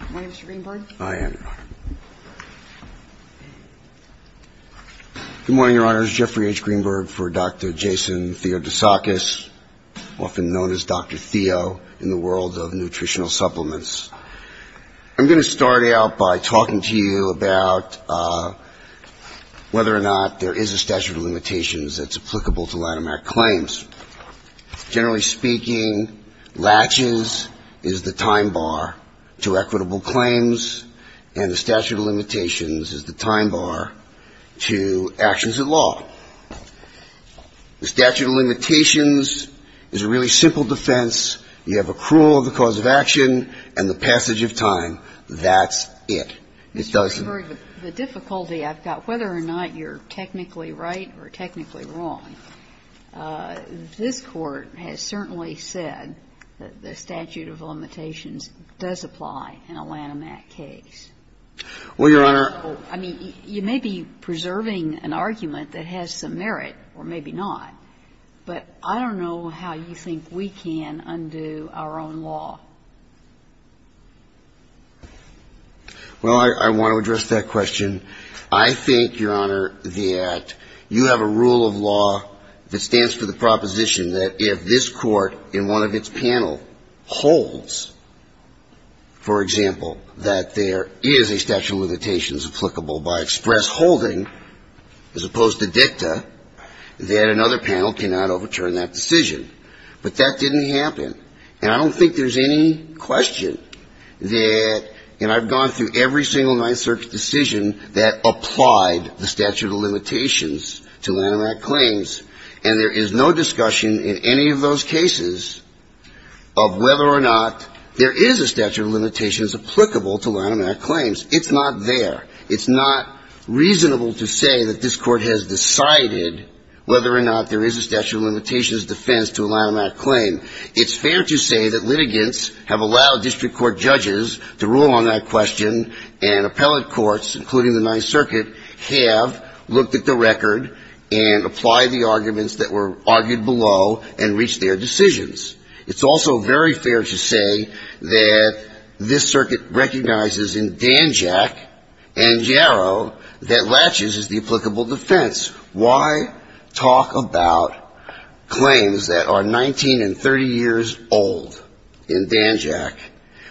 MR. GREENBERG. Good morning, Your Honors. Jeffrey H. Greenberg for Dr. Jason Theodosakis, often known as Dr. Theo in the world of nutritional supplements. I'm going to start out by talking to you about whether or not there is a statute of limitations that's applicable to Lanham Act claims. Generally speaking, latches is the time bar to equitable use of equitable claims, and the statute of limitations is the time bar to actions at law. The statute of limitations is a really simple defense. You have a cruel of the cause of action and the passage of time. That's it. It doesn't ---- JUSTICE KAGAN Mr. Greenberg, the difficulty I've got, whether or not you're technically right or technically wrong, this Court has certainly said that the statute of limitations does apply in a Lanham Act case. MR. GREENBERG. Well, Your Honor ---- JUSTICE KAGAN I mean, you may be preserving an argument that has some merit or maybe not, but I don't know how you think we can undo our own law. MR. GREENBERG. Well, I want to address that question. I think, Your Honor, the Act, you have a rule of law that stands for the proposition that if this Court in one of its panel holds, for example, that there is a statute of limitations applicable by express holding as opposed to dicta, that another panel cannot overturn that decision. But that didn't happen. And I don't think there's any question that ---- and I've gone through every single Ninth Circuit decision that applied the statute of limitations to Lanham Act claims. And there is no discussion in any of those cases of whether or not there is a statute of limitations applicable to Lanham Act claims. It's not there. It's not reasonable to say that this Court has decided whether or not there is a statute of limitations defense to a Lanham Act claim. It's fair to say that litigants have allowed district court judges to rule on that question, and appellate by the arguments that were argued below and reach their decisions. It's also very fair to say that this circuit recognizes in Danjack and Yarrow that laches is the applicable defense. Why talk about claims that are 19 and 30 years old in Danjack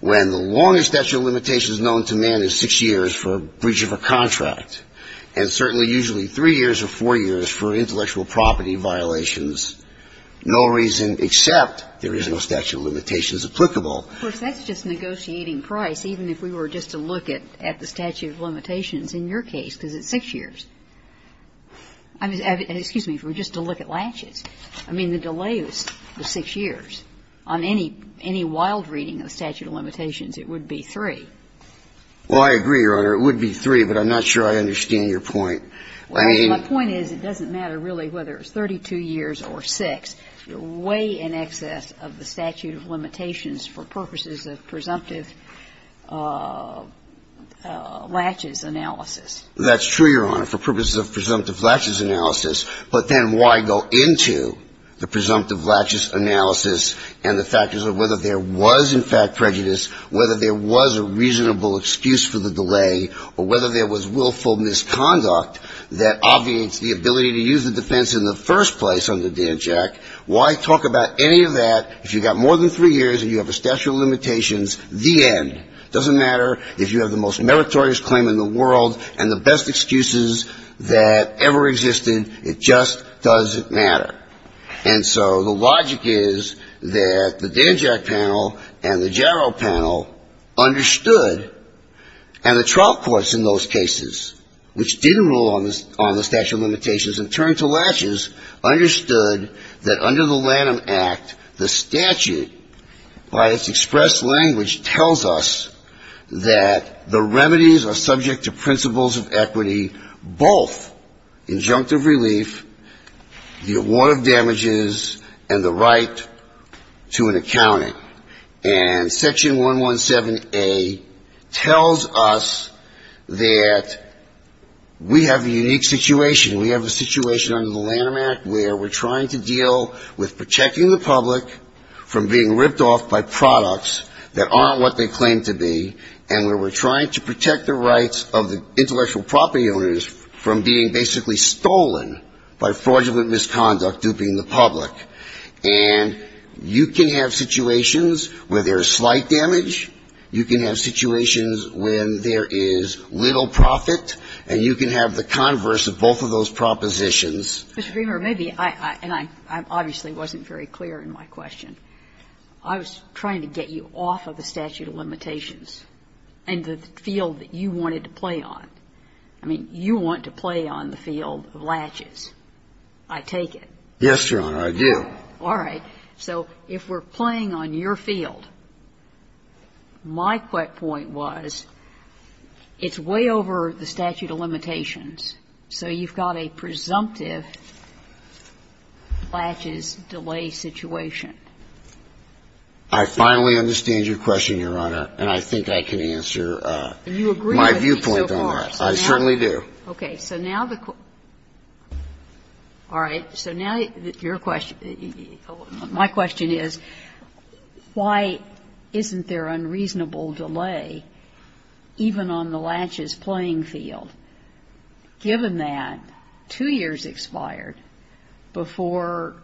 when the longest statute of limitations known to man is six years for breach of a contract, and certainly usually three years or four years for intellectual property violations, no reason except there is no statute of limitations applicable. Of course, that's just negotiating price, even if we were just to look at the statute of limitations in your case, because it's six years. I mean, excuse me, if we were just to look at laches, I mean, the delay is six years. On any wild reading of statute of limitations, it would be three. Well, I agree, Your Honor. It would be three, but I'm not sure I understand your point. My point is it doesn't matter really whether it's 32 years or six. You're way in excess of the statute of limitations for purposes of presumptive laches analysis. That's true, Your Honor, for purposes of presumptive laches analysis. But then why go into the presumptive laches analysis and the factors of whether there was, in fact, prejudice, whether there was a reasonable excuse for the delay, or whether there was willful misconduct that obviates the ability to use the defense in the first place under DANJAC? Why talk about any of that if you've got more than three years and you have a statute of limitations, the end? It doesn't matter if you have the most meritorious claim in the world and the best excuses that ever existed. It just doesn't matter. And so the logic is that the DANJAC panel and the JARO panel understood, and the trial courts in those cases, which didn't rule on the statute of limitations and turned to laches, understood that under the Lanham Act, the statute, by its expressed language, tells us that the remedies are subject to principles of equity, both injunctive relief, the award of damages, and the right to an accounting. And Section 117A tells us that we have a unique situation. We have a situation under the Lanham Act where we're trying to deal with protecting the public from being ripped off by products that aren't what they claim to be, and where we're trying to protect the rights of the intellectual property owners from being basically stolen by fraudulent misconduct duping the public. And you can have situations where there is slight damage, you can have situations when there is little profit, and you can have the converse of both of those propositions. Mr. Greenberg, maybe I – and I obviously wasn't very clear in my question. I was trying to get you off of the statute of limitations. And the field that you wanted to play on. I mean, you want to play on the field of laches. I take it. Yes, Your Honor, I do. All right. So if we're playing on your field, my quick point was it's way over the statute of limitations, so you've got a presumptive laches delay situation. I finally understand your question, Your Honor, and I think I can answer my viewpoint on that. And you agree with me so far. I certainly do. Okay. So now the – all right. So now your question – my question is, why isn't there unreasonable delay even on the laches playing field, given that two years expired before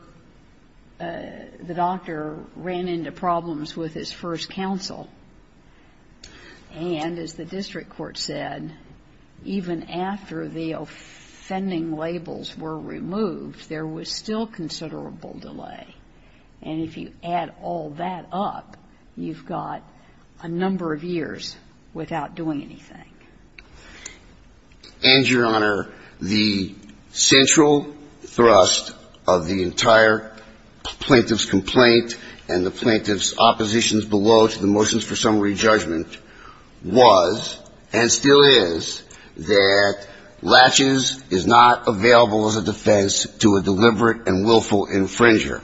the doctor ran into problems with his first counsel? And as the district court said, even after the offending labels were removed, there was still considerable delay. And if you add all that up, you've got a number of years without doing anything. And, Your Honor, the central thrust of the entire plaintiff's complaint and the plaintiff's oppositions below to the motions for summary judgment was, and still is, that laches is not available as a defense to a deliberate and willful infringer.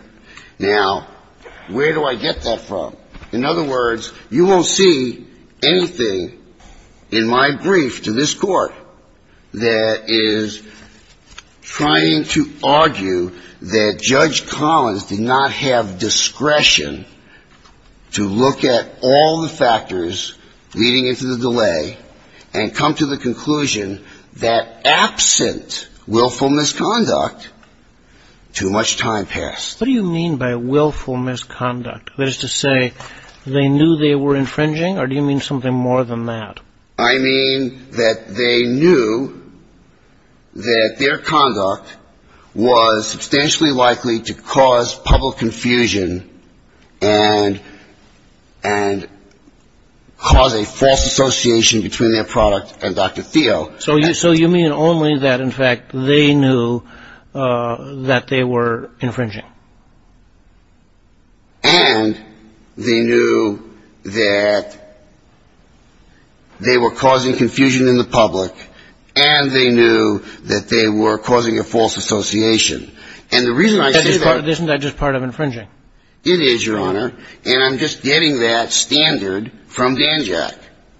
Now, where do I get that from? In other words, you won't see anything in my brief to this Court that is trying to argue that Judge Collins did not have discretion to look at all the factors leading into the delay and come to the conclusion that absent willful misconduct, too much time passed. What do you mean by willful misconduct? That is to say, they knew they were infringing, or do you mean something more than that? I mean that they knew that their conduct was substantially likely to cause public confusion and cause a false association between their product and Dr. Theo. So you mean only that, in fact, they knew that they were infringing? And they knew that they were causing confusion in the public, and they knew that they were causing a false association. And the reason I say that... Isn't that just part of infringing? It is, Your Honor, and I'm just getting that standard from Danjack.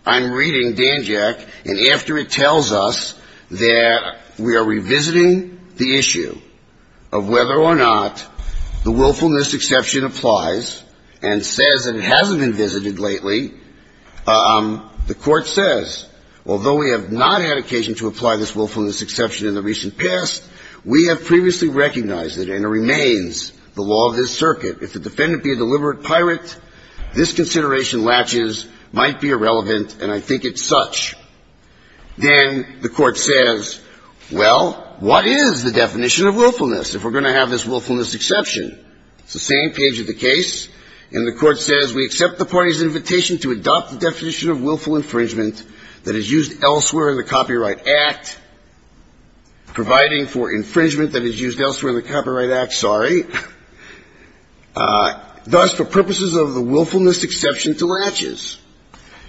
I'm reading Danjack, and after it tells us that we are revisiting the issue of whether or not the willfulness exception applies and says that it hasn't been visited lately, the Court says, although we have not had occasion to apply this exception, we accept the party's invitation to adopt the definition of willful infringement that is used elsewhere in the Copyright Act, providing for the willfulness exception to latches.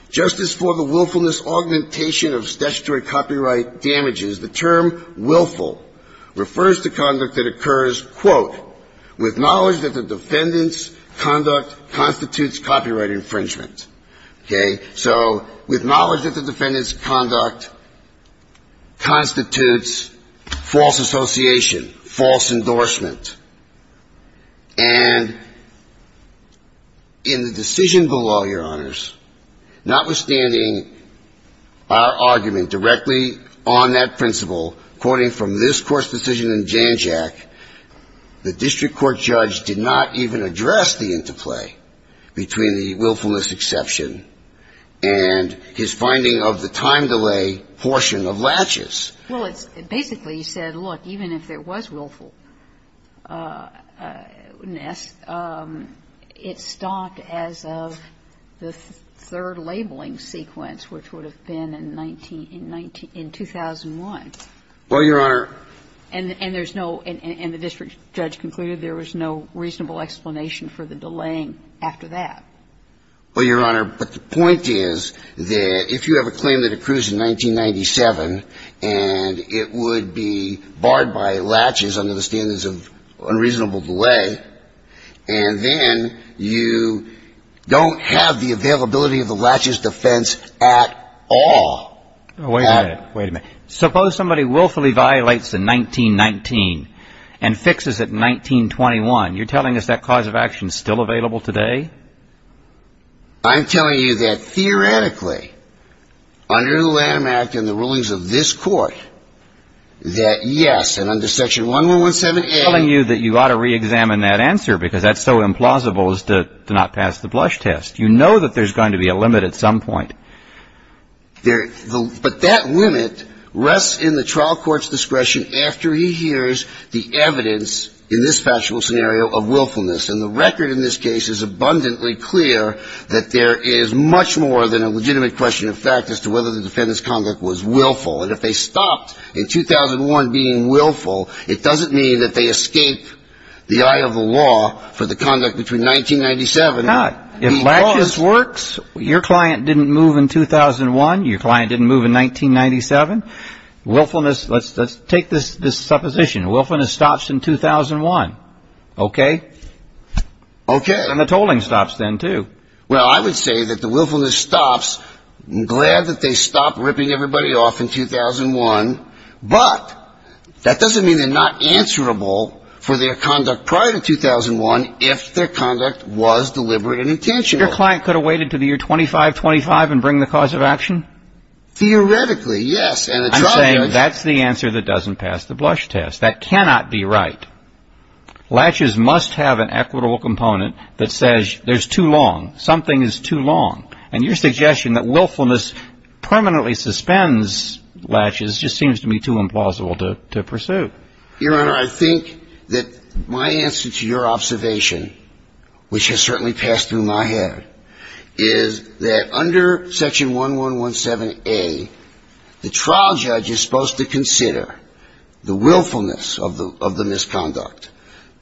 Just as for the willfulness augmentation of statutory copyright damages, the term willful refers to conduct that occurs, quote, with knowledge that the defendant's conduct constitutes copyright infringement. Okay? So with knowledge that the defendant's conduct constitutes false association, false endorsement, and in the decision below, Your Honors, notwithstanding our argument directly on that principle, quoting from this Court's decision in Danjack, the district court judge did not even address the interplay between the willfulness exception and his finding of the time delay portion of latches. Well, it's basically said, look, even if there was willfulness, it's stocked as of the third labeling sequence, which would have been in 19 19 In 2001. Well, Your Honor. And there's no And the district judge concluded there was no reasonable explanation for the delaying after that. Well, Your Honor, but the point is that if you have a claim that accrues in 1997 and the defendant is acquitted, and it would be barred by latches under the standards of unreasonable delay, and then you don't have the availability of the latches defense at all. Wait a minute. Wait a minute. Suppose somebody willfully violates the 1919 and fixes it in 1921. You're telling us that cause of action is still available today? I'm telling you that theoretically, under the Lamb Act and the rulings of this Court, that yes, and under section 1117A. I'm telling you that you ought to reexamine that answer, because that's so implausible as to not pass the blush test. You know that there's going to be a limit at some point. But that limit rests in the trial court's discretion after he hears the evidence in this factual scenario of willfulness. And the record in this case is abundantly clear that there is much more than a legitimate question of fact as to whether the defendant's conduct was willful. And if they stopped in 2001 being willful, it doesn't mean that they escape the eye of the law for the conduct between 1997. If latches works, your client didn't move in 2001. Your client didn't move in 1997. Willfulness, let's take this supposition. Willfulness stops in 2001. Okay? Okay. And the tolling stops then, too. Well, I would say that the willfulness stops. I'm glad that they stopped ripping everybody off in 2001. But that doesn't mean they're not answerable for their conduct prior to 2001 if their conduct was deliberate and intentional. Your client could have waited to the year 2525 and bring the cause of action? Theoretically, yes. I'm saying that's the answer that doesn't pass the blush test. That cannot be right. Latches must have an equitable component that says there's too long. Something is too long. And your suggestion that willfulness permanently suspends latches just seems to me too implausible to pursue. Your Honor, I think that my answer to your observation, which has certainly passed through my head, is that under Section 1117, the trial judge is supposed to consider the willfulness of the misconduct,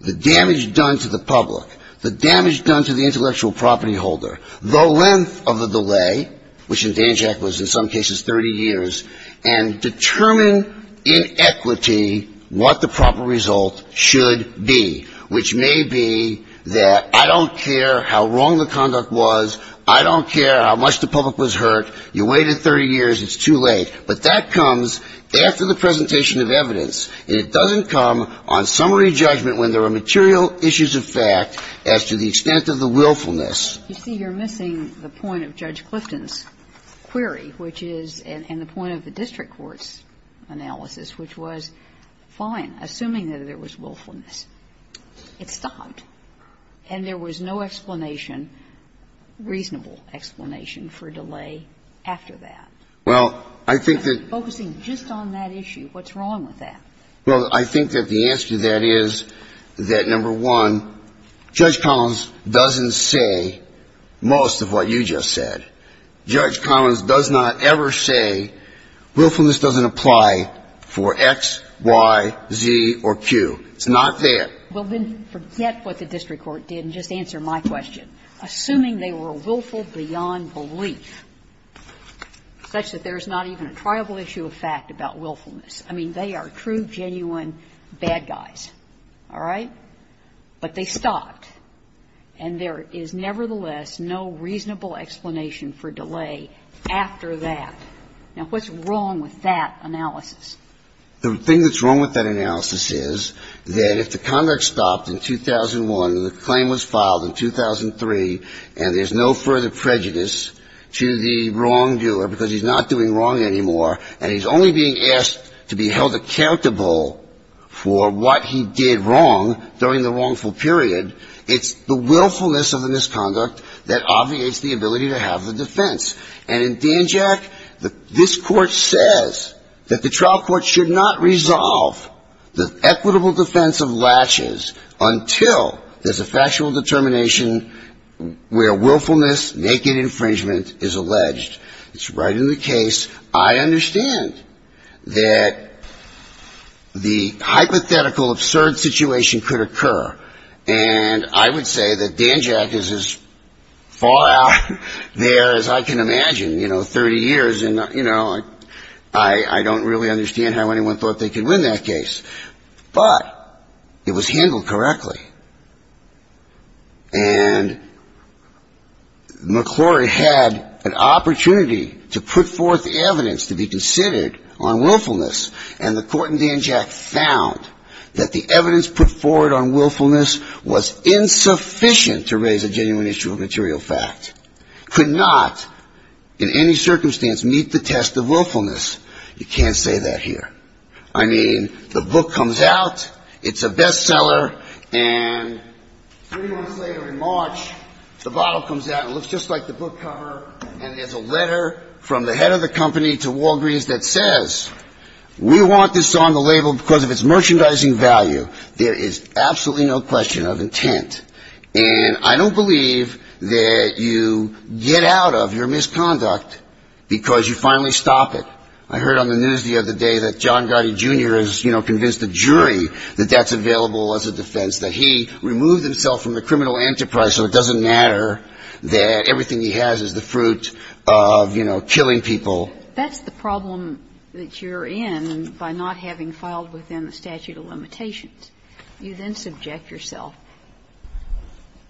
the damage done to the public, the damage done to the intellectual property holder, the length of the delay, which in Dan Jack was in some cases 30 years, and determine in equity what the proper result should be, which may be that I don't care how wrong the conduct was, I don't care how much the public was hurt, you waited 30 years, it's too late. But that comes after the presentation of evidence, and it doesn't come on summary judgment when there are material issues of fact as to the extent of the willfulness. You see, you're missing the point of Judge Clifton's query, which is, and the point of the district court's analysis, which was fine, assuming that there was willfulness. It stopped. And there was no explanation, reasonable explanation, for delay after that. Well, I think that the answer to that is that, number one, Judge Collins doesn't say most of what you just said. Judge Collins does not ever say willfulness doesn't apply for X, Y, Z, or Q. It's not that. Well, then forget what the district court did and just answer my question. Assuming they were willful beyond belief, such that there is not even a triable issue of fact about willfulness. I mean, they are true, genuine bad guys. All right? But they stopped. And there is nevertheless no reasonable explanation for delay after that. Now, what's wrong with that analysis? The thing that's wrong with that analysis is that if the conduct stopped in 2001 and the claim was filed in 2003 and there's no further prejudice to the wrongdoer because he's not doing wrong anymore and he's only being asked to be held accountable for what he did wrong during the wrongful period, it's the willfulness of the misconduct that obviates the ability to have the defense. And in Danjack, this Court says that the trial court should not resolve the equitable defense of latches until there's a fact about the factual determination where willfulness, naked infringement is alleged. It's right in the case. I understand that the hypothetical absurd situation could occur. And I would say that Danjack is as far out there as I can imagine, you know, 30 years. And, you know, I don't really understand how anyone thought they could win that case. But it was handled correctly. And McClory had an opportunity to put forth evidence to be considered on willfulness, and the Court in Danjack found that the evidence put forward on willfulness was insufficient to raise a genuine issue of material fact, could not in any circumstance meet the test of willfulness. You can't say that here. I mean, the book comes out, it's a bestseller, and three months later in March, the bottle comes out and looks just like the book cover, and there's a letter from the head of the company to Walgreens that says, we want this on the label because of its merchandising value. There is absolutely no question of intent. And I don't believe that you get out of your misconduct because you finally stop it. I heard on the news the other day that John Gotti, Jr. has, you know, convinced the jury that that's available as a defense, that he removed himself from the criminal enterprise so it doesn't matter, that everything he has is the fruit of, you know, killing people. That's the problem that you're in by not having filed within the statute of limitations. You then subject yourself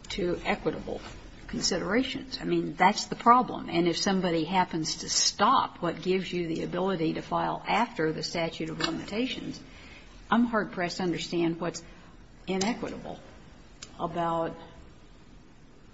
to equitable considerations. I mean, that's the problem. And if somebody happens to stop what gives you the ability to file after the statute of limitations, I'm hard-pressed to understand what's inequitable about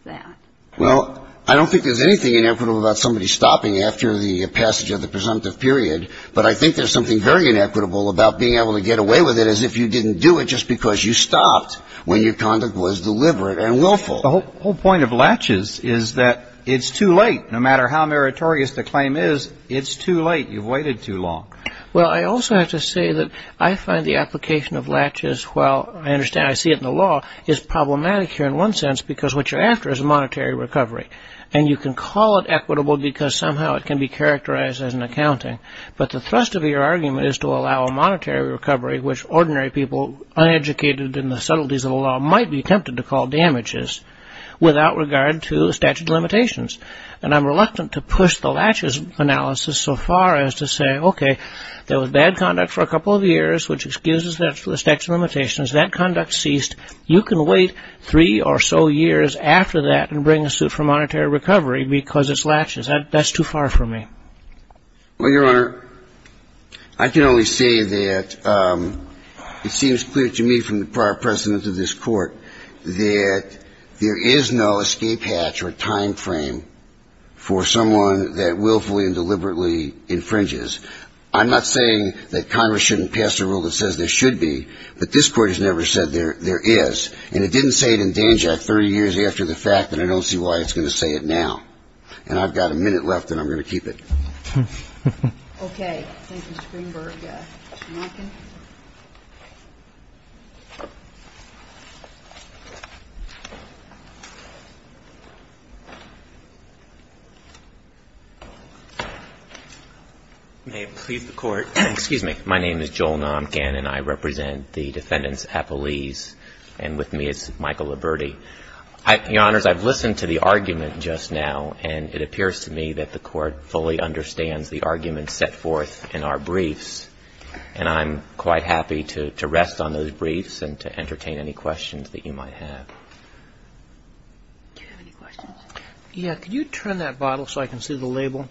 that. Well, I don't think there's anything inequitable about somebody stopping after the passage of the presumptive period, but I think there's something very inequitable about being able to get away with it as if you didn't do it just because you stopped when your conduct was deliberate and willful. Well, the whole point of latches is that it's too late. No matter how meritorious the claim is, it's too late. You've waited too long. Well, I also have to say that I find the application of latches, well, I understand I see it in the law, is problematic here in one sense because what you're after is a monetary recovery. And you can call it equitable because somehow it can be characterized as an accounting. But the thrust of your argument is to allow a monetary recovery which ordinary people, uneducated in the subtleties of the law, might be tempted to call damages without regard to statute of limitations. And I'm reluctant to push the latches analysis so far as to say, okay, there was bad conduct for a couple of years which excuses the statute of limitations. That conduct ceased. You can wait three or so years after that and bring a suit for monetary recovery because it's latches. That's too far for me. Well, Your Honor, I can only say that it seems clear to me from the prior precedent of this court that there is no escape hatch or time frame for someone that willfully and deliberately infringes. I'm not saying that Congress shouldn't pass a rule that says there should be, but this Court has never said there is. And it didn't say it in Danjack 30 years after the fact, and I don't see why it's going to say it now. And I've got a minute left, and I'm going to keep it. Okay. Thank you, Mr. Greenberg. Namkhan. May it please the Court. Excuse me. My name is Joel Namkhan, and I represent the defendants' appellees. And with me is Michael Liberti. Your Honors, I've listened to the argument just now, and it appears to me that the Court fully understands the argument set forth in our briefs. And I'm quite happy to rest on those briefs and to entertain any questions that you might have. Do you have any questions? Yeah. Could you turn that bottle so I can see the label?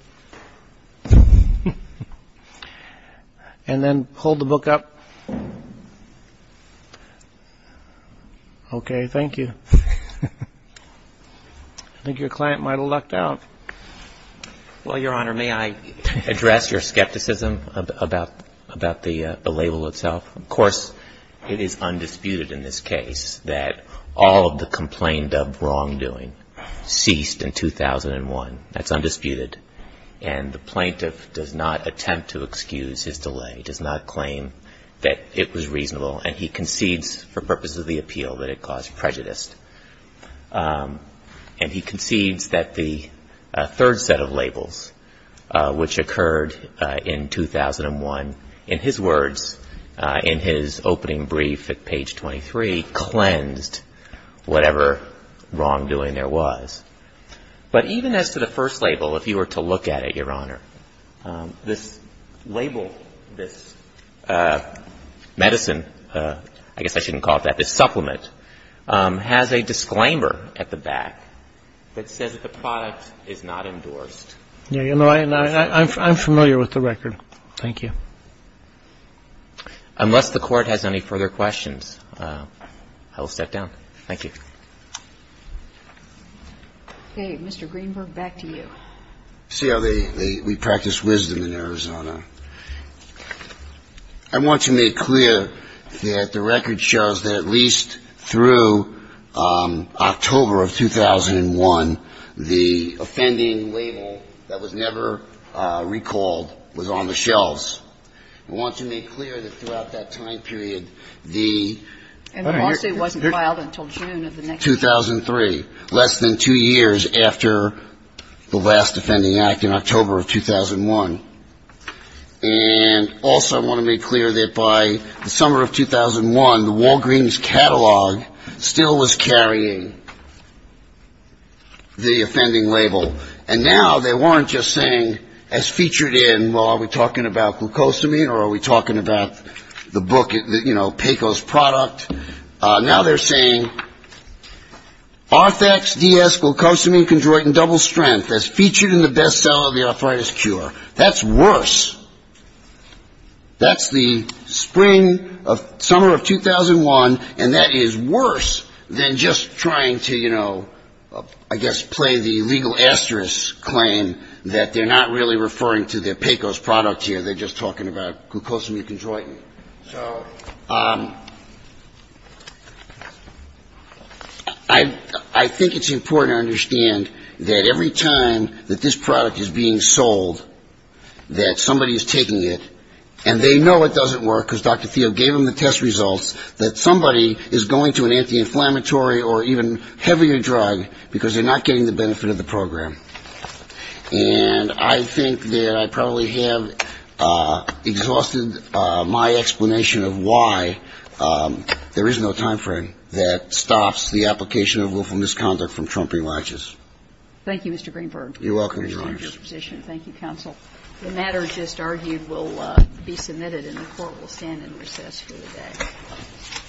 And then hold the book up. Okay. Thank you. I think your client might have lucked out. Well, Your Honor, may I address your skepticism about the label itself? Of course, it is undisputed in this case that all of the complaint of wrongdoing ceased in 2001. That's undisputed. And the plaintiff does not attempt to excuse his delay. He does not claim that it was reasonable, and he concedes for purposes of the appeal that it caused prejudice. And he concedes that the third set of labels, which occurred in 2001, in his words, in his opening brief at page 23, cleansed whatever wrongdoing there was. But even as to the first label, if you were to look at it, Your Honor, this label, this medicine, I guess I shouldn't call it that, this supplement, has a disclaimer at the back that says that the product is not endorsed. Yeah. I'm familiar with the record. Thank you. Unless the Court has any further questions, I will step down. Thank you. Okay. Mr. Greenberg, back to you. See how they – we practice wisdom in Arizona. I want to make clear that the record shows that at least through October of 2001, the offending label that was never recalled was on the shelves. I want to make clear that throughout that time period, the – And the lawsuit wasn't filed until June of the next year. 2003. Less than two years after the last offending act in October of 2001. And also I want to make clear that by the summer of 2001, the Walgreens catalog still was carrying the offending label. And now they weren't just saying, as featured in – well, are we talking about glucosamine or are we talking about the book, you know, PECO's product? Now they're saying Arthax-DS, glucosamine chondroitin double strength, as featured in the bestseller of the arthritis cure. That's worse. That's the spring of – summer of 2001, and that is worse than just trying to, you know, I guess play the legal asterisk claim that they're not really referring to the PECO's product here. They're just talking about glucosamine chondroitin. So I think it's important to understand that every time that this product is being sold, that somebody is taking it and they know it doesn't work because Dr. Thiel gave them the test results, that somebody is going to an anti-inflammatory or even heavier drug because they're not getting the benefit of the program. And I think that I probably have exhausted my explanation of why there is no time frame that stops the application of willful misconduct from trumping watches. Thank you, Mr. Greenberg. You're welcome, Your Honor. Appreciate your disposition. Thank you, counsel. The matter just argued will be submitted and the court will stand in recess for the day.